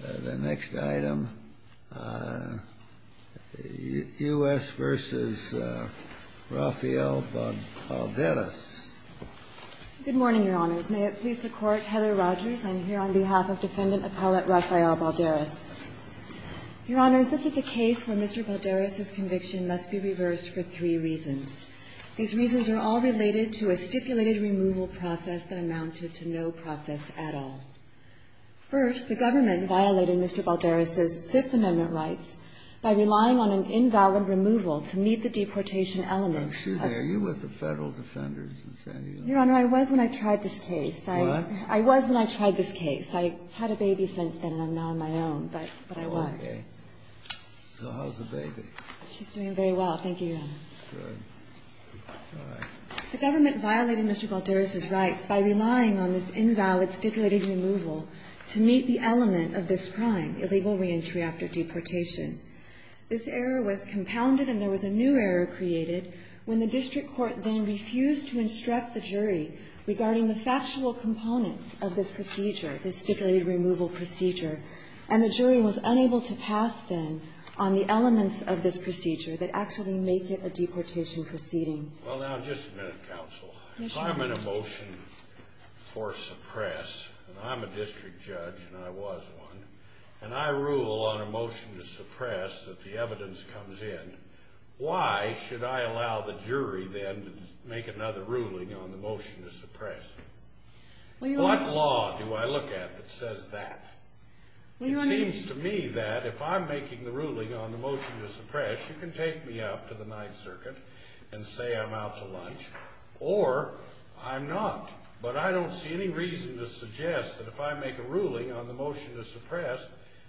The next item, U.S. v. Rafael Balderas. Good morning, Your Honors. May it please the Court, Heather Rogers, I'm here on behalf of Defendant Appellate Rafael Balderas. Your Honors, this is a case where Mr. Balderas' conviction must be reversed for three reasons. These reasons are all related to a stipulated removal process that amounted to no process at all. First, the government violated Mr. Balderas' Fifth Amendment rights by relying on an invalid removal to meet the deportation element. Are you with the Federal Defenders in San Diego? Your Honor, I was when I tried this case. What? I was when I tried this case. I had a baby since then and I'm now on my own, but I was. Okay. So how's the baby? She's doing very well. Thank you, Your Honor. Good. All right. The government violated Mr. Balderas' rights by relying on this invalid stipulated removal to meet the element of this crime, illegal reentry after deportation. This error was compounded and there was a new error created when the district court then refused to instruct the jury regarding the factual components of this procedure, this stipulated removal procedure, and the jury was unable to pass then on the elements of this procedure that actually make it a deportation proceeding. Well, now, just a minute, counsel. Yes, Your Honor. If I'm in a motion for suppress, and I'm a district judge and I was one, and I rule on a motion to suppress that the evidence comes in, why should I allow the jury then to make another ruling on the motion to suppress? What law do I look at that says that? It seems to me that if I'm making the ruling on the motion to suppress, you can take me out to the Ninth Circuit and say I'm out to lunch, or I'm not, but I don't see any reason to suggest that if I make a ruling on the motion to suppress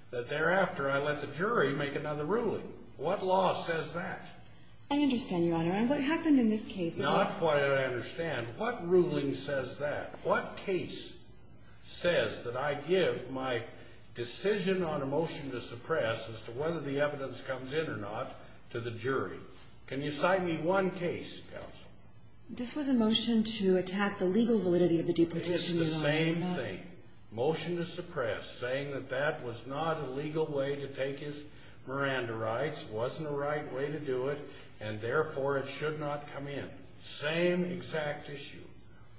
that thereafter I let the jury make another ruling. What law says that? I understand, Your Honor. And what happened in this case is that... Now, that's what I don't understand. What ruling says that? What case says that I give my decision on a motion to suppress as to whether the evidence comes in or not to the jury? Can you cite me one case, counsel? This was a motion to attack the legal validity of the deportation. It is the same thing. Motion to suppress saying that that was not a legal way to take his Miranda rights, wasn't the right way to do it, and therefore it should not come in. Same exact issue.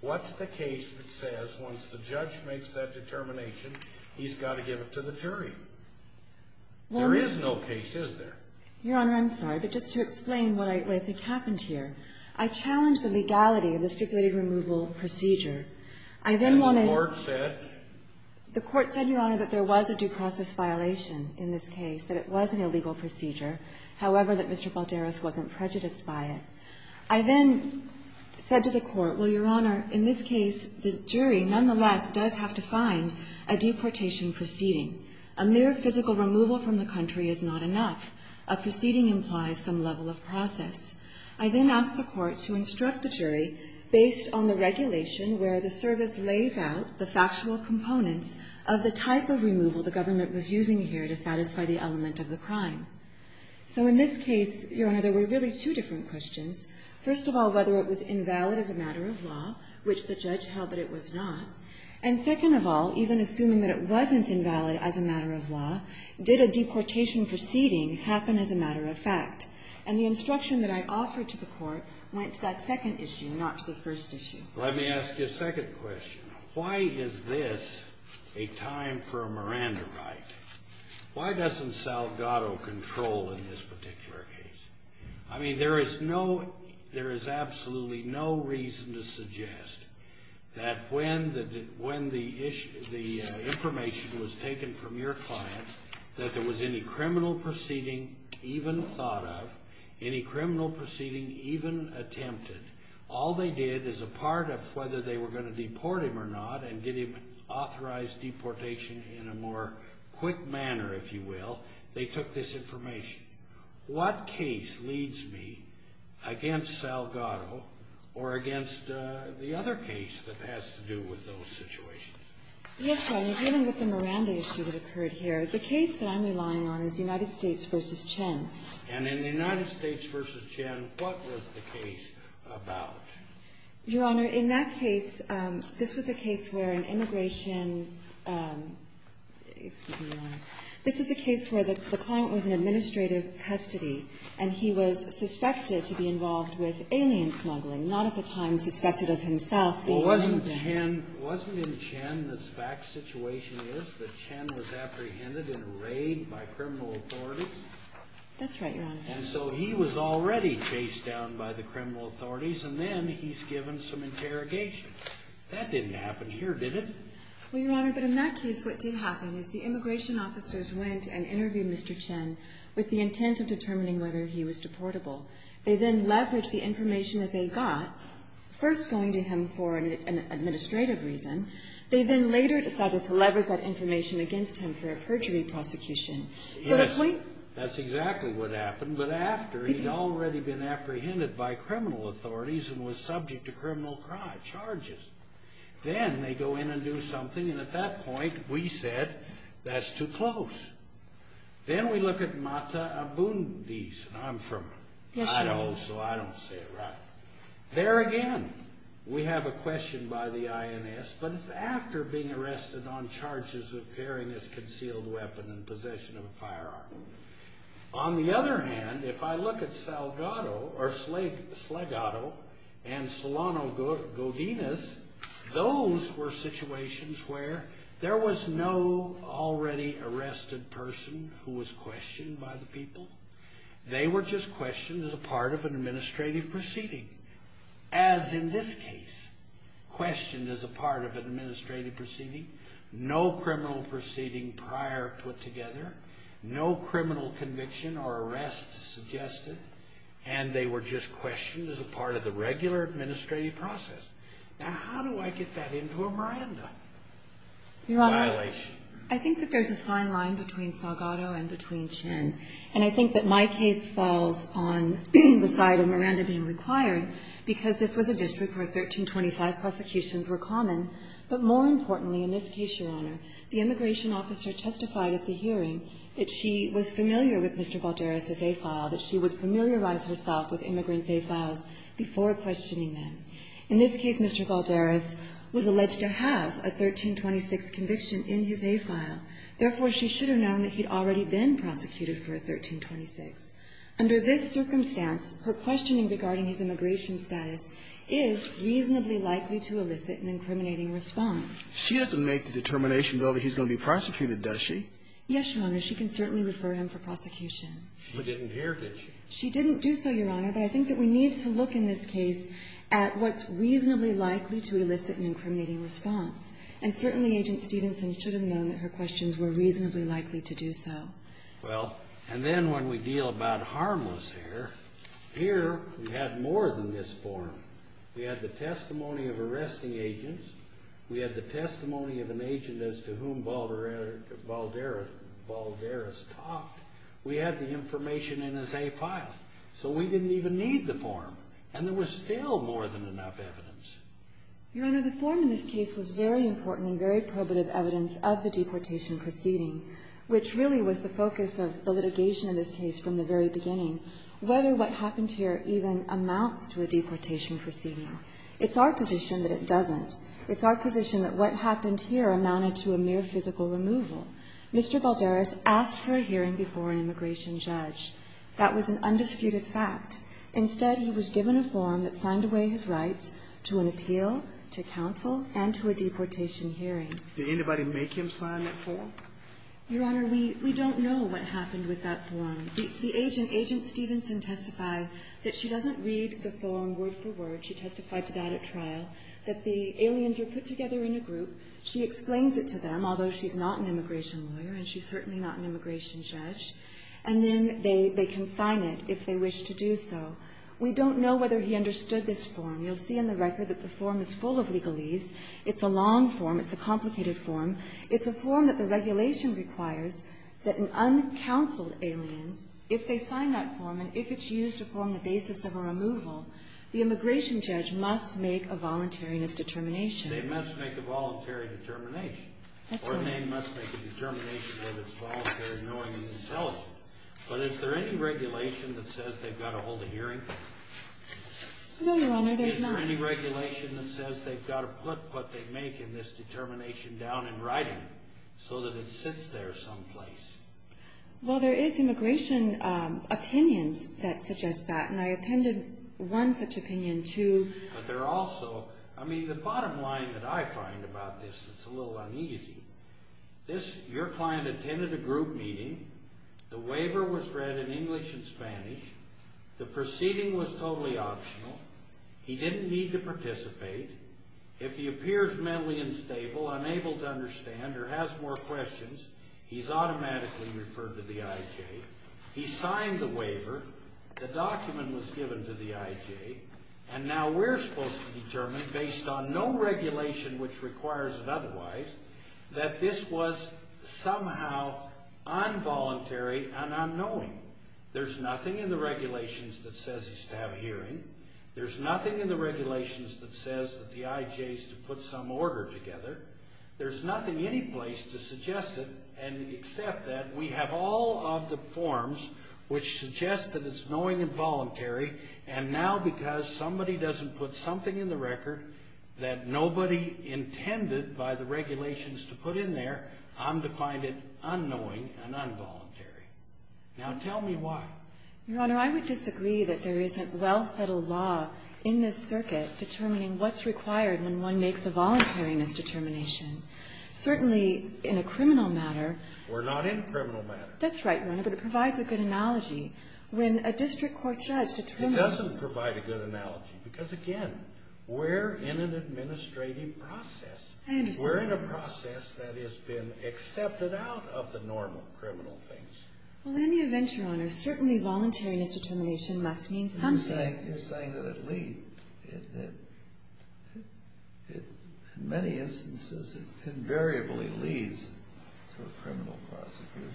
What's the case that says once the judge makes that determination, he's got to give it to the jury? There is no case, is there? Your Honor, I'm sorry, but just to explain what I think happened here. I challenged the legality of the stipulated removal procedure. I then wanted... And the court said? The court said, Your Honor, that there was a due process violation in this case, that it was an illegal procedure, however, that Mr. Balderas wasn't prejudiced by it. I then said to the court, well, Your Honor, in this case, the jury nonetheless does have to find a deportation proceeding. A mere physical removal from the country is not enough. A proceeding implies some level of process. I then asked the court to instruct the jury based on the regulation where the service lays out the factual components of the type of removal the government was using here to satisfy the element of the crime. So in this case, Your Honor, there were really two different questions. First of all, whether it was invalid as a matter of law, which the judge held that it was not. And second of all, even assuming that it wasn't invalid as a matter of law, did a deportation proceeding happen as a matter of fact? And the instruction that I offered to the court went to that second issue, not to the first issue. Let me ask you a second question. Why is this a time for a Miranda right? Why doesn't Salgado control in this particular case? I mean, there is absolutely no reason to suggest that when the information was taken from your client that there was any criminal proceeding even thought of, any criminal proceeding even attempted, all they did as a part of whether they were going to deport him or not and get him authorized deportation in a more quick manner, if you will, they took this information. What case leads me against Salgado or against the other case that has to do with those situations? Yes, Your Honor, even with the Miranda issue that occurred here, the case that I'm relying on is United States v. Chen. And in the United States v. Chen, what was the case about? Your Honor, in that case, this was a case where an immigration, excuse me, Your Honor, this is a case where the client was in administrative custody and he was suspected to be involved with alien smuggling, not at the time suspected of himself. Well, wasn't in Chen, the fact situation is that Chen was apprehended in a raid by criminal authorities? That's right, Your Honor. And so he was already chased down by the criminal authorities and then he's given some interrogation. That didn't happen here, did it? Well, Your Honor, but in that case what did happen was the immigration officers went and interviewed Mr. Chen with the intent of determining whether he was deportable. They then leveraged the information that they got, first going to him for an administrative reason. They then later decided to leverage that information against him for a perjury prosecution. Yes, that's exactly what happened, but after he'd already been apprehended by criminal authorities and was subject to criminal charges. Then they go in and do something, and at that point we said that's too close. Then we look at Mata Abundis, and I'm from Idaho, so I don't say it right. There again, we have a question by the INS, but it's after being arrested on charges of carrying a concealed weapon and possession of a firearm. On the other hand, if I look at Salgado and Solano Godinez, those were situations where there was no already arrested person who was questioned by the people. They were just questioned as a part of an administrative proceeding. As in this case, questioned as a part of an administrative proceeding. No criminal proceeding prior put together. No criminal conviction or arrest suggested, and they were just questioned as a part of the regular administrative process. Now, how do I get that into a Miranda violation? Your Honor, I think that there's a fine line between Salgado and between Chin, and I think that my case falls on the side of Miranda being required because this was a district where 1325 prosecutions were common, but more importantly in this case, Your Honor, the immigration officer testified at the hearing that she was familiar with Mr. Valderes' A file, that she would familiarize herself with immigrants' A files before questioning them. In this case, Mr. Valderes was alleged to have a 1326 conviction in his A file. Therefore, she should have known that he'd already been prosecuted for a 1326. Under this circumstance, her questioning regarding his immigration status is reasonably likely to elicit an incriminating response. She doesn't make the determination, though, that he's going to be prosecuted, does she? Yes, Your Honor. She can certainly refer him for prosecution. She didn't hear, did she? She didn't do so, Your Honor, but I think that we need to look in this case at what's reasonably likely to elicit an incriminating response. And certainly, Agent Stevenson should have known that her questions were reasonably likely to do so. Well, and then when we deal about harmless here, here we have more than this form. We have the testimony of arresting agents. We have the testimony of an agent as to whom Valderes talked. We have the information in his A file. So we didn't even need the form. And there was still more than enough evidence. Your Honor, the form in this case was very important and very probative evidence of the deportation proceeding, which really was the focus of the litigation in this case from the very beginning, whether what happened here even amounts to a deportation proceeding. It's our position that it doesn't. It's our position that what happened here amounted to a mere physical removal. Mr. Valderes asked for a hearing before an immigration judge. That was an undisputed fact. Instead, he was given a form that signed away his rights to an appeal, to counsel, and to a deportation hearing. Did anybody make him sign that form? Your Honor, we don't know what happened with that form. The agent, Agent Stevenson, testified that she doesn't read the form word for word. She testified to that at trial, that the aliens were put together in a group. She explains it to them, although she's not an immigration lawyer and she's certainly not an immigration judge. And then they can sign it if they wish to do so. We don't know whether he understood this form. You'll see in the record that the form is full of legalese. It's a long form. It's a complicated form. It's a form that the regulation requires that an uncounseled alien, if they sign that The immigration judge must make a voluntariness determination. They must make a voluntary determination. That's right. Or they must make a determination that is voluntary, knowing and intelligent. But is there any regulation that says they've got to hold a hearing? No, Your Honor, there's not. Is there any regulation that says they've got to put what they make in this determination down in writing so that it sits there someplace? Well, there is immigration opinions that suggest that. And I attended one such opinion, too. But there are also, I mean, the bottom line that I find about this is a little uneasy. Your client attended a group meeting. The waiver was read in English and Spanish. The proceeding was totally optional. He didn't need to participate. If he appears mentally unstable, unable to understand, or has more questions, he's automatically referred to the IJ. He signed the waiver. The document was given to the IJ. And now we're supposed to determine, based on no regulation which requires it otherwise, that this was somehow involuntary and unknowing. There's nothing in the regulations that says he's to have a hearing. There's nothing in the regulations that says that the IJ is to put some order together. There's nothing anyplace to suggest it and accept that. We have all of the forms which suggest that it's knowing and voluntary. And now because somebody doesn't put something in the record that nobody intended by the regulations to put in there, I'm to find it unknowing and involuntary. Now tell me why. Your Honor, I would disagree that there isn't well-settled law in this circuit determining what's required when one makes a voluntariness determination. Certainly in a criminal matter. We're not in a criminal matter. That's right, Your Honor, but it provides a good analogy. When a district court judge determines. It doesn't provide a good analogy because, again, we're in an administrative process. I understand. We're in a process that has been accepted out of the normal criminal things. Well, in any event, Your Honor, certainly voluntariness determination must mean something. You're saying that in many instances it invariably leads to a criminal prosecution.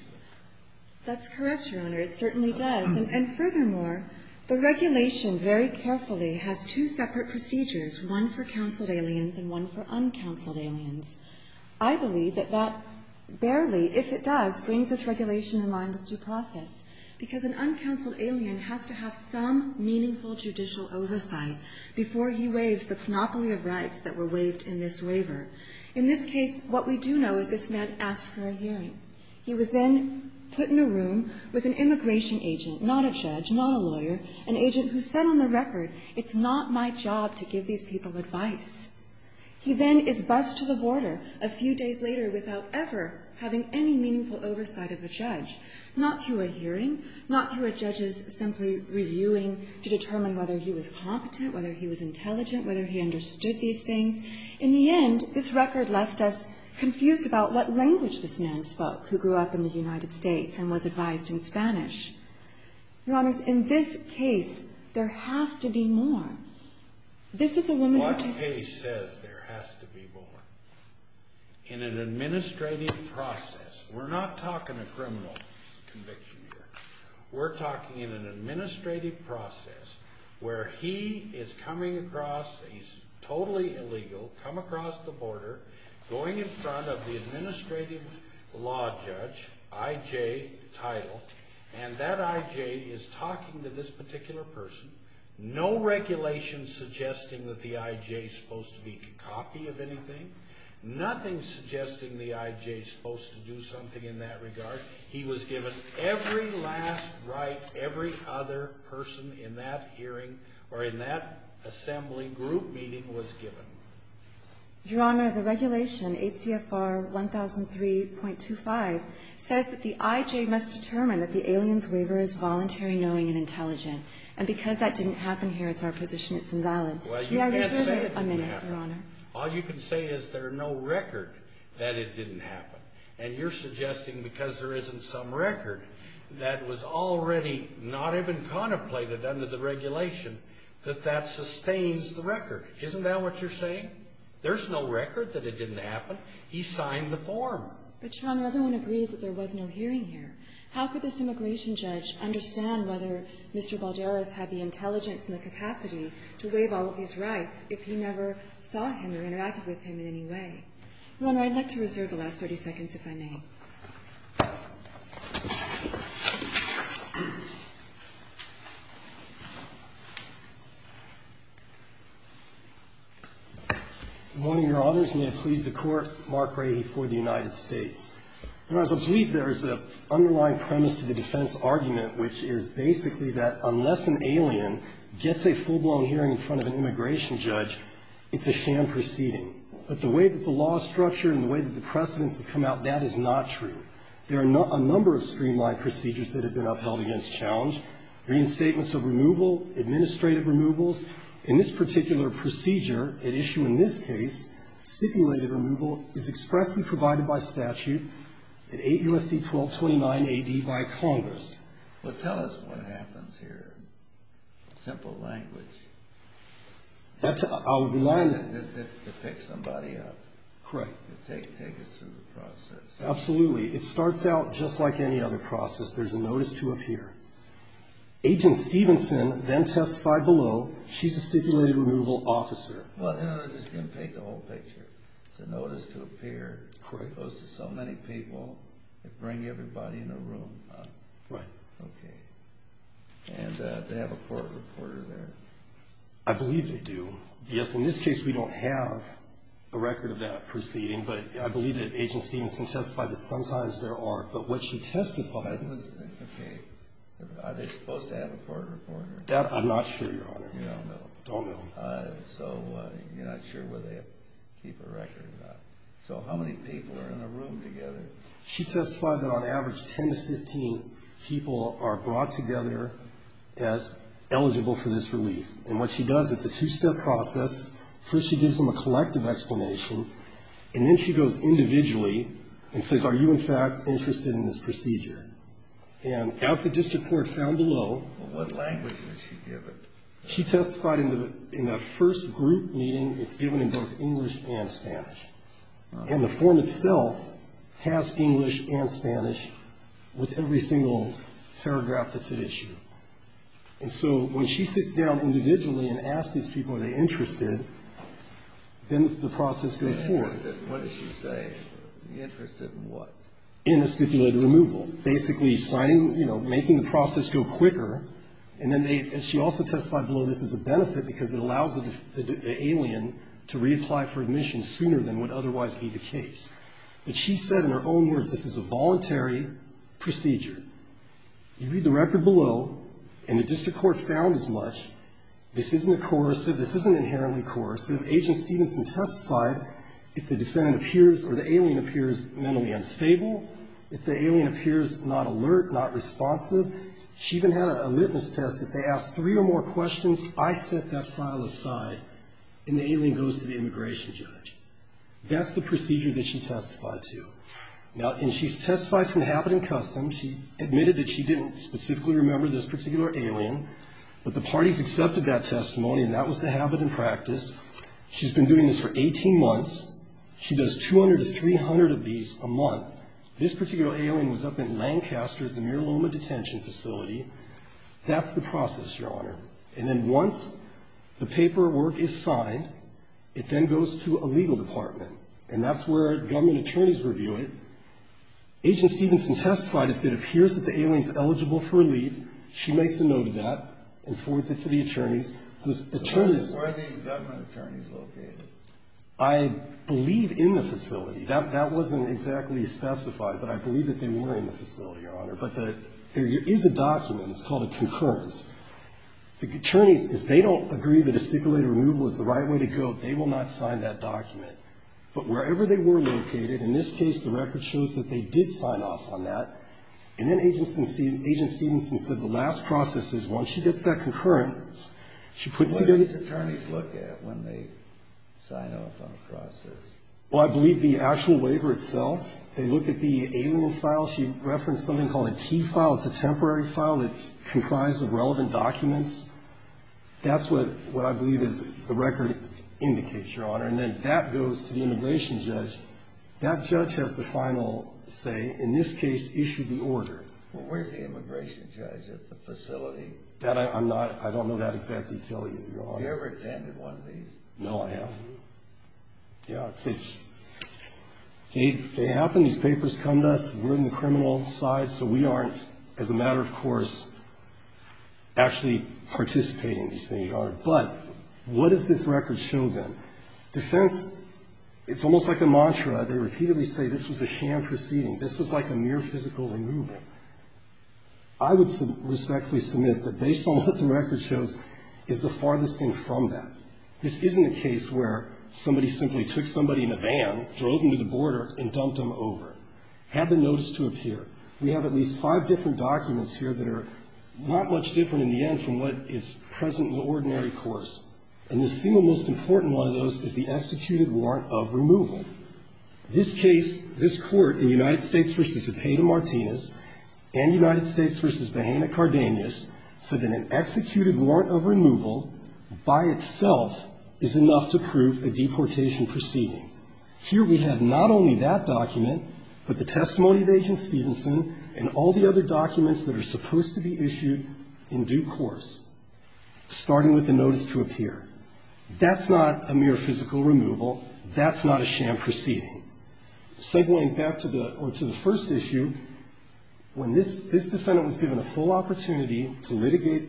That's correct, Your Honor. It certainly does. And furthermore, the regulation very carefully has two separate procedures, one for counseled aliens and one for uncounseled aliens. I believe that that barely, if it does, brings this regulation in line with due process because an uncounseled alien has to have some meaningful judicial oversight before he waives the panoply of rights that were waived in this waiver. In this case, what we do know is this man asked for a hearing. He was then put in a room with an immigration agent, not a judge, not a lawyer, an agent who said on the record, it's not my job to give these people advice. He then is bused to the border a few days later without ever having any meaningful oversight of a judge, not through a hearing, not through a judge's simply reviewing to determine whether he was competent, whether he was intelligent, whether he understood these things. In the end, this record left us confused about what language this man spoke who grew up in the United States and was advised in Spanish. Your Honors, in this case, there has to be more. This is a woman who takes a case. What case says there has to be more? In an administrative process. We're not talking a criminal conviction here. We're talking in an administrative process where he is coming across, he's totally illegal, come across the border, going in front of the administrative law judge, I.J., title, and that I.J. is talking to this particular person, no regulation suggesting that the I.J. is supposed to be a copy of anything, nothing suggesting the I.J. is supposed to do something in that regard. He was given every last right every other person in that hearing or in that assembly group meeting was given. Your Honor, the regulation, 8 CFR 1003.25, says that the I.J. must determine that the alien's waiver is voluntary, knowing, and intelligent. And because that didn't happen here, it's our position it's invalid. May I reserve a minute, Your Honor? All you can say is there are no record that it didn't happen. And you're suggesting because there isn't some record that was already not even contemplated under the regulation that that sustains the record. Isn't that what you're saying? There's no record that it didn't happen. He signed the form. But, Your Honor, everyone agrees that there was no hearing here. How could this immigration judge understand whether Mr. Balderas had the intelligence and the capacity to waive all of these rights if you never saw him or interacted with him in any way? Your Honor, I'd like to reserve the last 30 seconds, if I may. Good morning, Your Honors. May it please the Court. Mark Rady for the United States. Your Honor, I believe there is an underlying premise to the defense argument, which is basically that unless an alien gets a full-blown hearing in front of an immigration judge, it's a sham proceeding. But the way that the law is structured and the way that the precedents have come out, that is not true. There are a number of streamlined procedures that have been upheld against challenge, reinstatements of removal, administrative removals. In this particular procedure at issue in this case, stipulated removal is expressly provided by statute in 8 U.S.C. 1229 A.D. by Congress. Well, tell us what happens here, simple language. It picks somebody up. Correct. It takes us through the process. Absolutely. It starts out just like any other process. There's a notice to appear. Agent Stevenson then testified below. She's a stipulated removal officer. Well, I'm just going to take the whole picture. It's a notice to appear. Correct. It goes to so many people. They bring everybody in a room. Right. Okay. And they have a court reporter there. I believe they do. Yes, in this case we don't have a record of that proceeding, but I believe that Agent Stevenson testified that sometimes there are. But what she testified was... Okay. Are they supposed to have a court reporter? I'm not sure, Your Honor. You don't know. Don't know. So you're not sure whether they keep a record or not. So how many people are in a room together? She testified that on average 10 to 15 people are brought together as eligible for this relief. And what she does, it's a two-step process. First she gives them a collective explanation, and then she goes individually and says, Are you, in fact, interested in this procedure? And as the district court found below... Well, what language was she given? She testified in the first group meeting it's given in both English and Spanish. And the form itself has English and Spanish with every single paragraph that's at issue. And so when she sits down individually and asks these people are they interested, then the process goes forward. Interested in what did she say? Interested in what? In a stipulated removal. Basically signing, you know, making the process go quicker. And then they... And she also testified below this as a benefit because it allows the alien to reapply for admission sooner than would otherwise be the case. And she said in her own words, This is a voluntary procedure. You read the record below, and the district court found as much. This isn't a coercive. This isn't inherently coercive. Agent Stevenson testified if the defendant appears or the alien appears mentally unstable, if the alien appears not alert, not responsive. She even had a litmus test. If they ask three or more questions, I set that file aside, and the alien goes to the immigration judge. That's the procedure that she testified to. Now, and she's testified from habit and custom. She admitted that she didn't specifically remember this particular alien, but the parties accepted that testimony, and that was the habit and practice. She's been doing this for 18 months. She does 200 to 300 of these a month. This particular alien was up in Lancaster at the Mira Loma detention facility. That's the process, Your Honor. And then once the paperwork is signed, it then goes to a legal department, and that's where government attorneys review it. Agent Stevenson testified if it appears that the alien is eligible for relief, she makes a note of that and forwards it to the attorneys, whose attorneys Where are the government attorneys located? I believe in the facility. That wasn't exactly specified, but I believe that they were in the facility, Your Honor. But there is a document. It's called a concurrence. The attorneys, if they don't agree that a stipulated removal is the right way to go, they will not sign that document. But wherever they were located, in this case, the record shows that they did sign off on that. And then Agent Stevenson said the last process is once she gets that concurrence, she puts together What do these attorneys look at when they sign off on a process? Well, I believe the actual waiver itself. They look at the alien file. She referenced something called a T file. It's a temporary file. It's comprised of relevant documents. That's what I believe is the record indicates, Your Honor. And then that goes to the immigration judge. That judge has the final say, in this case, issue the order. Well, where's the immigration judge at the facility? That I'm not – I don't know that exact detail, Your Honor. Have you ever attended one of these? No, I haven't. Have you? Yeah. They happen. These papers come to us. We're on the criminal side. So we aren't, as a matter of course, actually participating in these things, Your Honor. But what does this record show, then? Defense, it's almost like a mantra. They repeatedly say this was a sham proceeding. This was like a mere physical removal. I would respectfully submit that based on what the record shows is the farthest thing from that. This isn't a case where somebody simply took somebody in a van, drove them to the border, and dumped them over. Have the notice to appear. We have at least five different documents here that are not much different, in the end, from what is present in the ordinary course. And the single most important one of those is the executed warrant of removal. This case, this court, in United States v. Epata-Martinez and United States v. Hanna-Cardenas, said that an executed warrant of removal, by itself, is enough to prove a deportation proceeding. Here we have not only that document, but the testimony of Agent Stevenson, and all the other documents that are supposed to be issued in due course, starting with the notice to appear. That's not a mere physical removal. That's not a sham proceeding. Segueing back to the first issue, when this defendant was given a full opportunity to litigate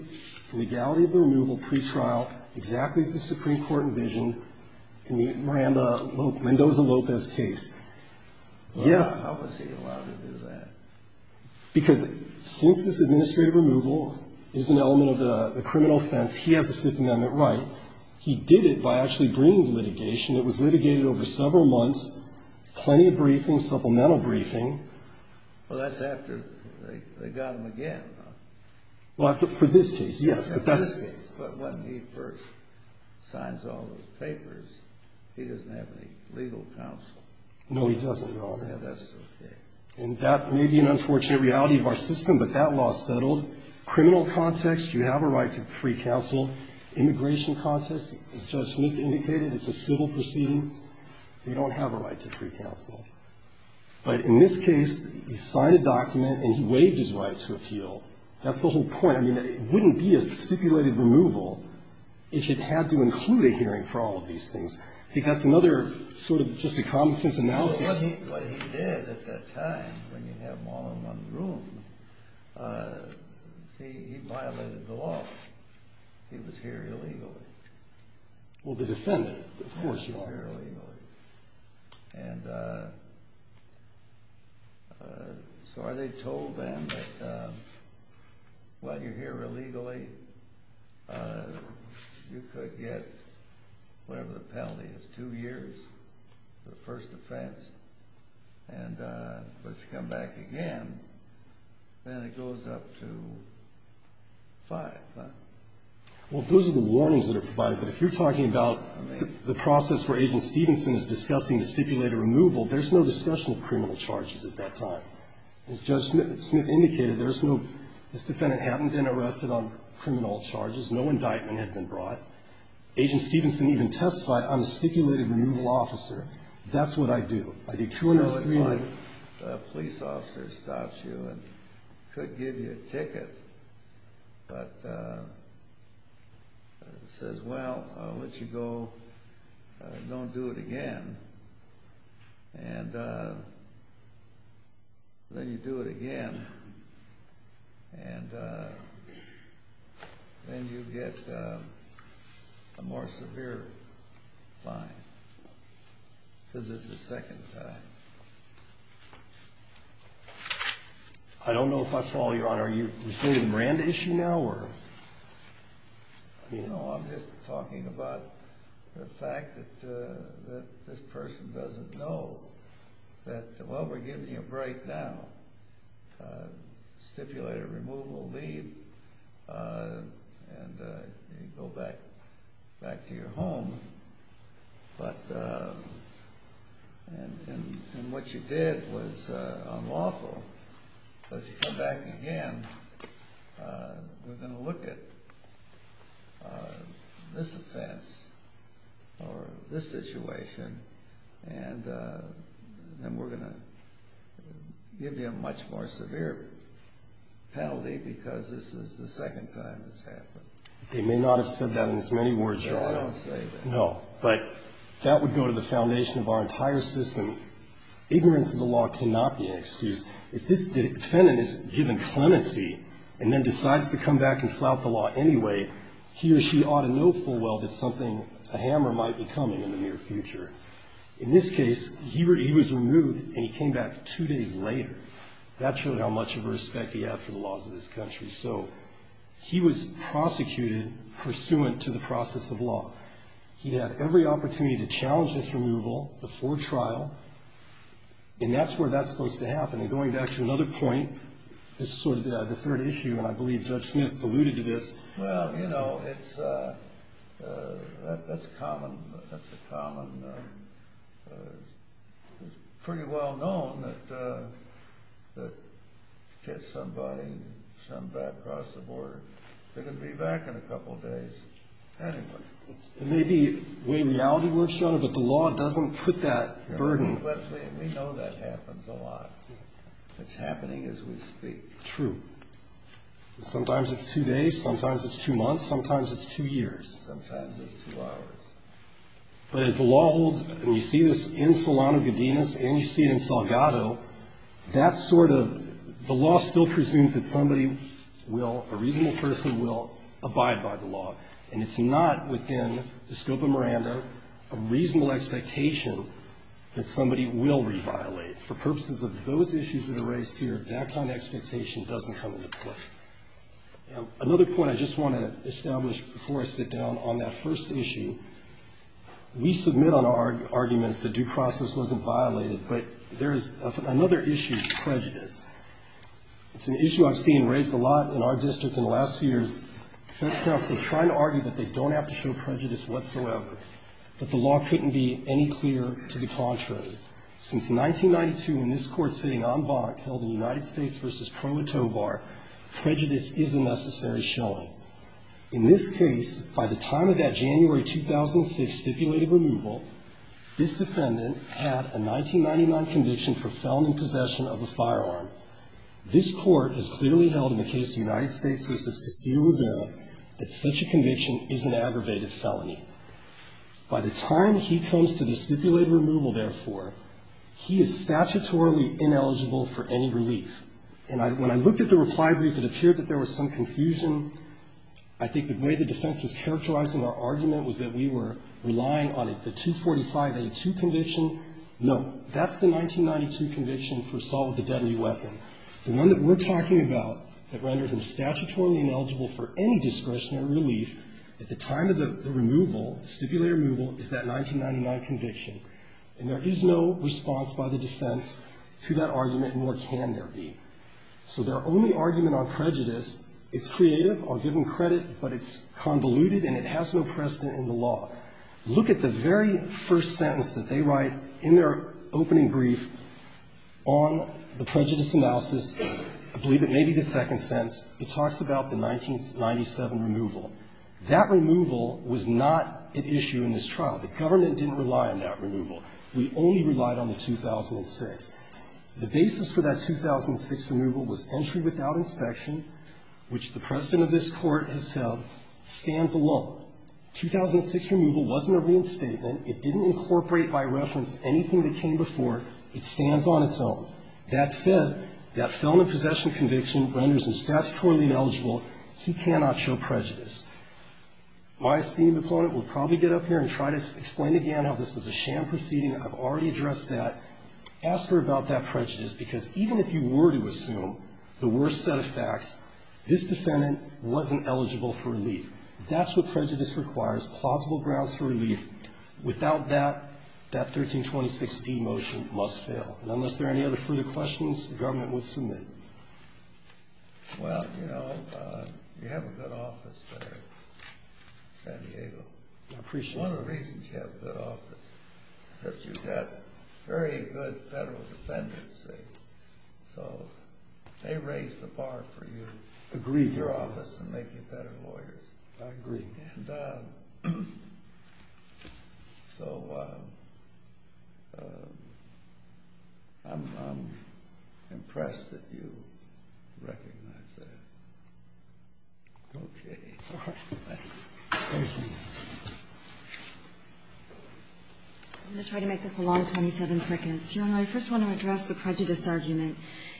the legality of the removal pretrial, exactly as the Supreme Court envisioned in the Miranda-Lindosa-Lopez case. Yes. Breyer. How was he allowed to do that? Because since this administrative removal is an element of the criminal offense, He did it by actually bringing the litigation. It was litigated over several months. Plenty of briefing, supplemental briefing. Well, that's after they got him again, huh? Well, for this case, yes. For this case. But when he first signs all those papers, he doesn't have any legal counsel. No, he doesn't, Your Honor. Yeah, that's okay. And that may be an unfortunate reality of our system, but that law is settled. Criminal context, you have a right to free counsel. Immigration context, as Judge Smith indicated, it's a civil proceeding. They don't have a right to free counsel. But in this case, he signed a document and he waived his right to appeal. That's the whole point. I mean, it wouldn't be a stipulated removal if it had to include a hearing for all of these things. I think that's another sort of just a common-sense analysis. Well, what he did at that time, when you have them all in one room, see, he violated the law. He was here illegally. Well, the defendant, of course, Your Honor. He was here illegally. And so are they told then that while you're here illegally, you could get whatever the penalty is, two years for the first offense. But if you come back again, then it goes up to five. Well, those are the warnings that are provided. But if you're talking about the process where Agent Stevenson is discussing the stipulated removal, there's no discussion of criminal charges at that time. As Judge Smith indicated, this defendant hadn't been arrested on criminal charges. No indictment had been brought. Agent Stevenson even testified on a stipulated removal officer. That's what I do. I think two years is fine. A police officer stops you and could give you a ticket, but says, well, I'll let you go. Don't do it again. And then you do it again. And then you get a more severe fine. This is the second time. I don't know if I follow, Your Honor. Are you referring to the Miranda issue now? No, I'm just talking about the fact that this person doesn't know that, well, we're giving you a break now. Stipulated removal, leave. And you go back to your home. And what you did was unlawful. But if you come back again, we're going to look at this offense or this situation, and we're going to give you a much more severe penalty because this is the second time it's happened. They may not have said that in as many words, Your Honor. No, I don't say that. No, but that would go to the foundation of our entire system. Ignorance of the law cannot be an excuse. If this defendant is given clemency and then decides to come back and flout the law anyway, he or she ought to know full well that something, a hammer might be coming in the near future. In this case, he was removed and he came back two days later. That showed how much of a respect he had for the laws of this country. So he was prosecuted pursuant to the process of law. He had every opportunity to challenge this removal before trial, and that's where that's supposed to happen. And going back to another point, this is sort of the third issue, and I believe Judge Smith alluded to this. Well, you know, that's common. That's a common, pretty well-known that gets somebody, some bad cross the border. They're going to be back in a couple days anyway. Maybe when reality works, Your Honor, but the law doesn't put that burden. We know that happens a lot. It's happening as we speak. True. Sometimes it's two days. Sometimes it's two months. Sometimes it's two years. Sometimes it's two hours. But as the law holds, and you see this in Solano-Godinez and you see it in Salgado, that sort of, the law still presumes that somebody will, a reasonable person will abide by the law. And it's not within the scope of Miranda, a reasonable expectation that somebody will reviolate. And for purposes of those issues that are raised here, that kind of expectation doesn't come into play. Another point I just want to establish before I sit down on that first issue, we submit on our arguments that due process wasn't violated, but there is another issue, prejudice. It's an issue I've seen raised a lot in our district in the last few years. Defense counsel trying to argue that they don't have to show prejudice whatsoever, but the law couldn't be any clearer to the contrary. Since 1992, in this court sitting en banc, held in United States v. Proetovar, prejudice is a necessary showing. In this case, by the time of that January 2006 stipulated removal, this defendant had a 1999 conviction for felony possession of a firearm. This court has clearly held in the case of United States v. Castillo-Rivera that such a conviction is an aggravated felony. By the time he comes to the stipulated removal, therefore, he is statutorily ineligible for any relief. And when I looked at the reply brief, it appeared that there was some confusion. I think the way the defense was characterizing our argument was that we were relying on the 245A2 conviction. No, that's the 1992 conviction for assault with a deadly weapon. The one that we're talking about that rendered him statutorily ineligible for any discretionary relief at the time of the removal, stipulated removal, is that 1999 conviction. And there is no response by the defense to that argument, nor can there be. So their only argument on prejudice, it's creative, I'll give them credit, but it's convoluted and it has no precedent in the law. Look at the very first sentence that they write in their opening brief on the prejudice analysis, I believe it may be the second sentence. It talks about the 1997 removal. That removal was not an issue in this trial. The government didn't rely on that removal. We only relied on the 2006. The basis for that 2006 removal was entry without inspection, which the precedent of this Court has held stands alone. 2006 removal wasn't a reinstatement. It didn't incorporate by reference anything that came before it. It stands on its own. That said, that felon in possession conviction renders him statutorily ineligible. He cannot show prejudice. My esteemed opponent will probably get up here and try to explain again how this was a sham proceeding. I've already addressed that. Ask her about that prejudice, because even if you were to assume the worst set of facts, this defendant wasn't eligible for relief. That's what prejudice requires, plausible grounds for relief. Without that, that 1326d motion must fail. Unless there are any other further questions, the government will submit. Well, you know, you have a good office there in San Diego. I appreciate that. One of the reasons you have a good office is that you've got very good federal defendants. They raise the bar for you in your office and make you better lawyers. I agree. And so I'm impressed that you recognize that. Okay. Thank you. I'm going to try to make this a long 27 seconds. Your Honor, I first want to address the prejudice argument.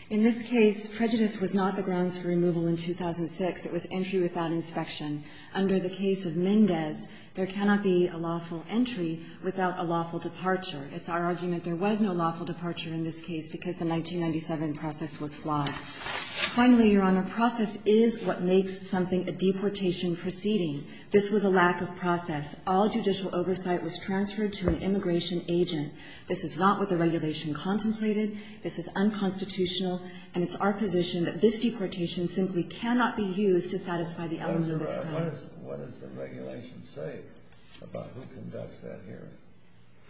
In this case, prejudice was not the grounds for removal in 2006. It was entry without inspection. Under the case of Mendez, there cannot be a lawful entry without a lawful departure. It's our argument there was no lawful departure in this case because the 1997 process was flawed. Finally, Your Honor, process is what makes something a deportation proceeding. This was a lack of process. All judicial oversight was transferred to an immigration agent. This is not what the regulation contemplated. This is unconstitutional, and it's our position that this deportation simply cannot be used to satisfy the elements of this crime. What does the regulation say about who conducts that hearing?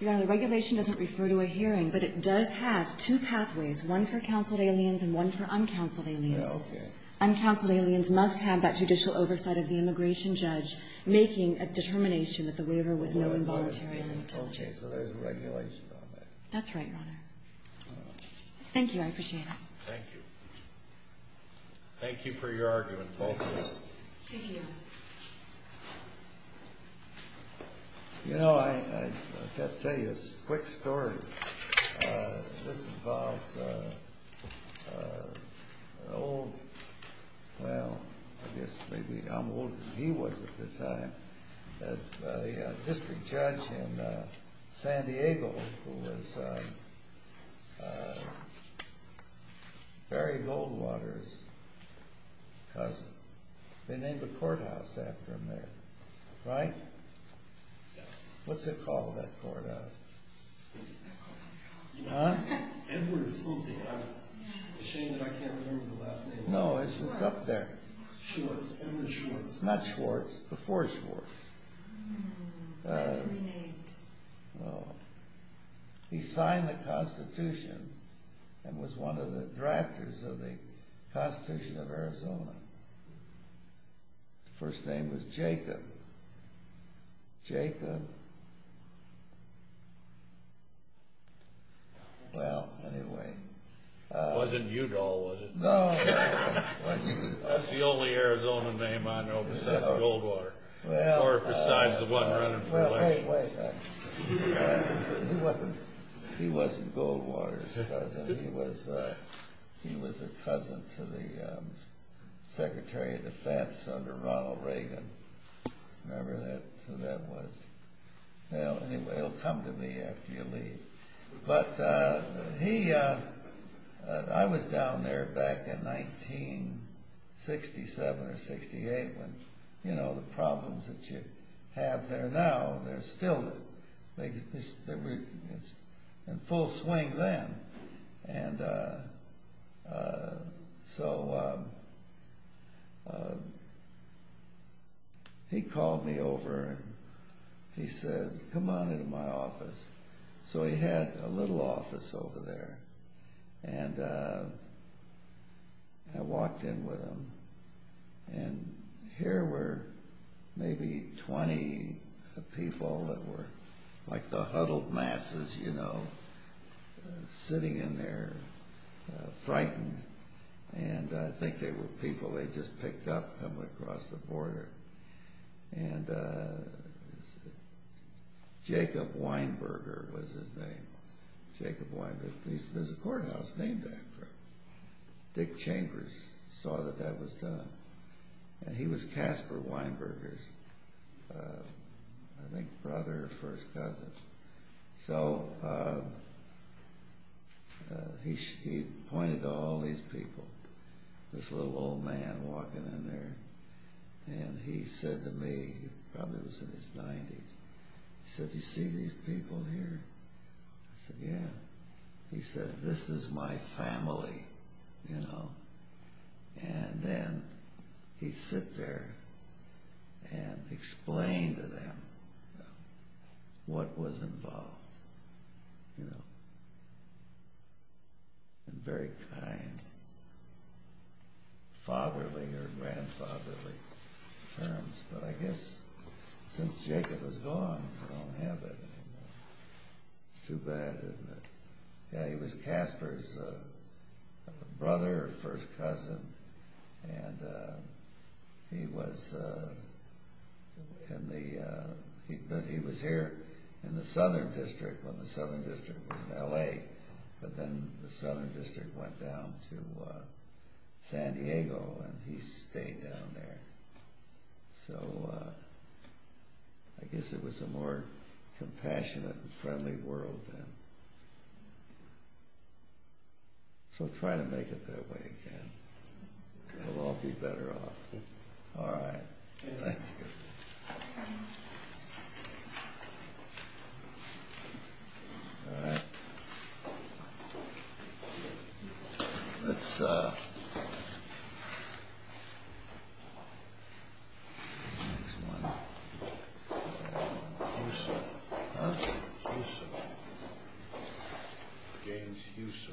Your Honor, the regulation doesn't refer to a hearing, but it does have two pathways, one for counseled aliens and one for uncounseled aliens. Okay. Uncounseled aliens must have that judicial oversight of the immigration judge making a determination that the waiver was no involuntary. Okay, so there's a regulation on that. That's right, Your Honor. Thank you. I appreciate it. Thank you. Thank you for your argument, both of you. Thank you. You know, I've got to tell you a quick story. This involves an old, well, I guess maybe I'm older than he was at the time, a district judge in San Diego who was Barry Goldwater's cousin. They named a courthouse after him there, right? What's it called, that courthouse? Edward something. It's a shame that I can't remember the last name. No, it's just up there. Schwartz, Edward Schwartz. Not Schwartz. Before Schwartz. Oh, that's reneged. No. He signed the Constitution and was one of the drafters of the Constitution of Arizona. The first name was Jacob. Jacob. Well, anyway. It wasn't Udall, was it? No. That's the only Arizona name I know besides Goldwater. Or besides the one running for election. Well, wait a minute. He wasn't Goldwater's cousin. He was a cousin to the Secretary of Defense under Ronald Reagan. Remember who that was? Well, anyway, he'll come to me after you leave. But he, I was down there back in 1967 or 68 when, you know, the problems that you have there now, they're still in full swing then. And so he called me over and he said, come on into my office. So he had a little office over there. And I walked in with him. And here were maybe 20 people that were like the huddled masses, you know, sitting in there frightened. And I think they were people, they just picked up and went across the border. And Jacob Weinberger was his name. Jacob Weinberger. There's a courthouse named after him. Dick Chambers saw that that was done. And he was Casper Weinberger's, I think, brother or first cousin. So he pointed to all these people, this little old man walking in there. And he said to me, he probably was in his 90s, he said, do you see these people here? I said, yeah. He said, this is my family, you know. And then he'd sit there and explain to them what was involved, you know. And very kind, fatherly or grandfatherly terms. But I guess since Jacob was gone, they don't have it anymore. It's too bad, isn't it? Yeah, he was Casper's brother or first cousin. And he was here in the Southern District when the Southern District was in L.A. But then the Southern District went down to San Diego and he stayed down there. So I guess it was a more compassionate and friendly world then. So try to make it that way again. It'll all be better off. All right. Thank you. All right. Let's, uh. This next one. Uso. Huh? Uso. James Uso.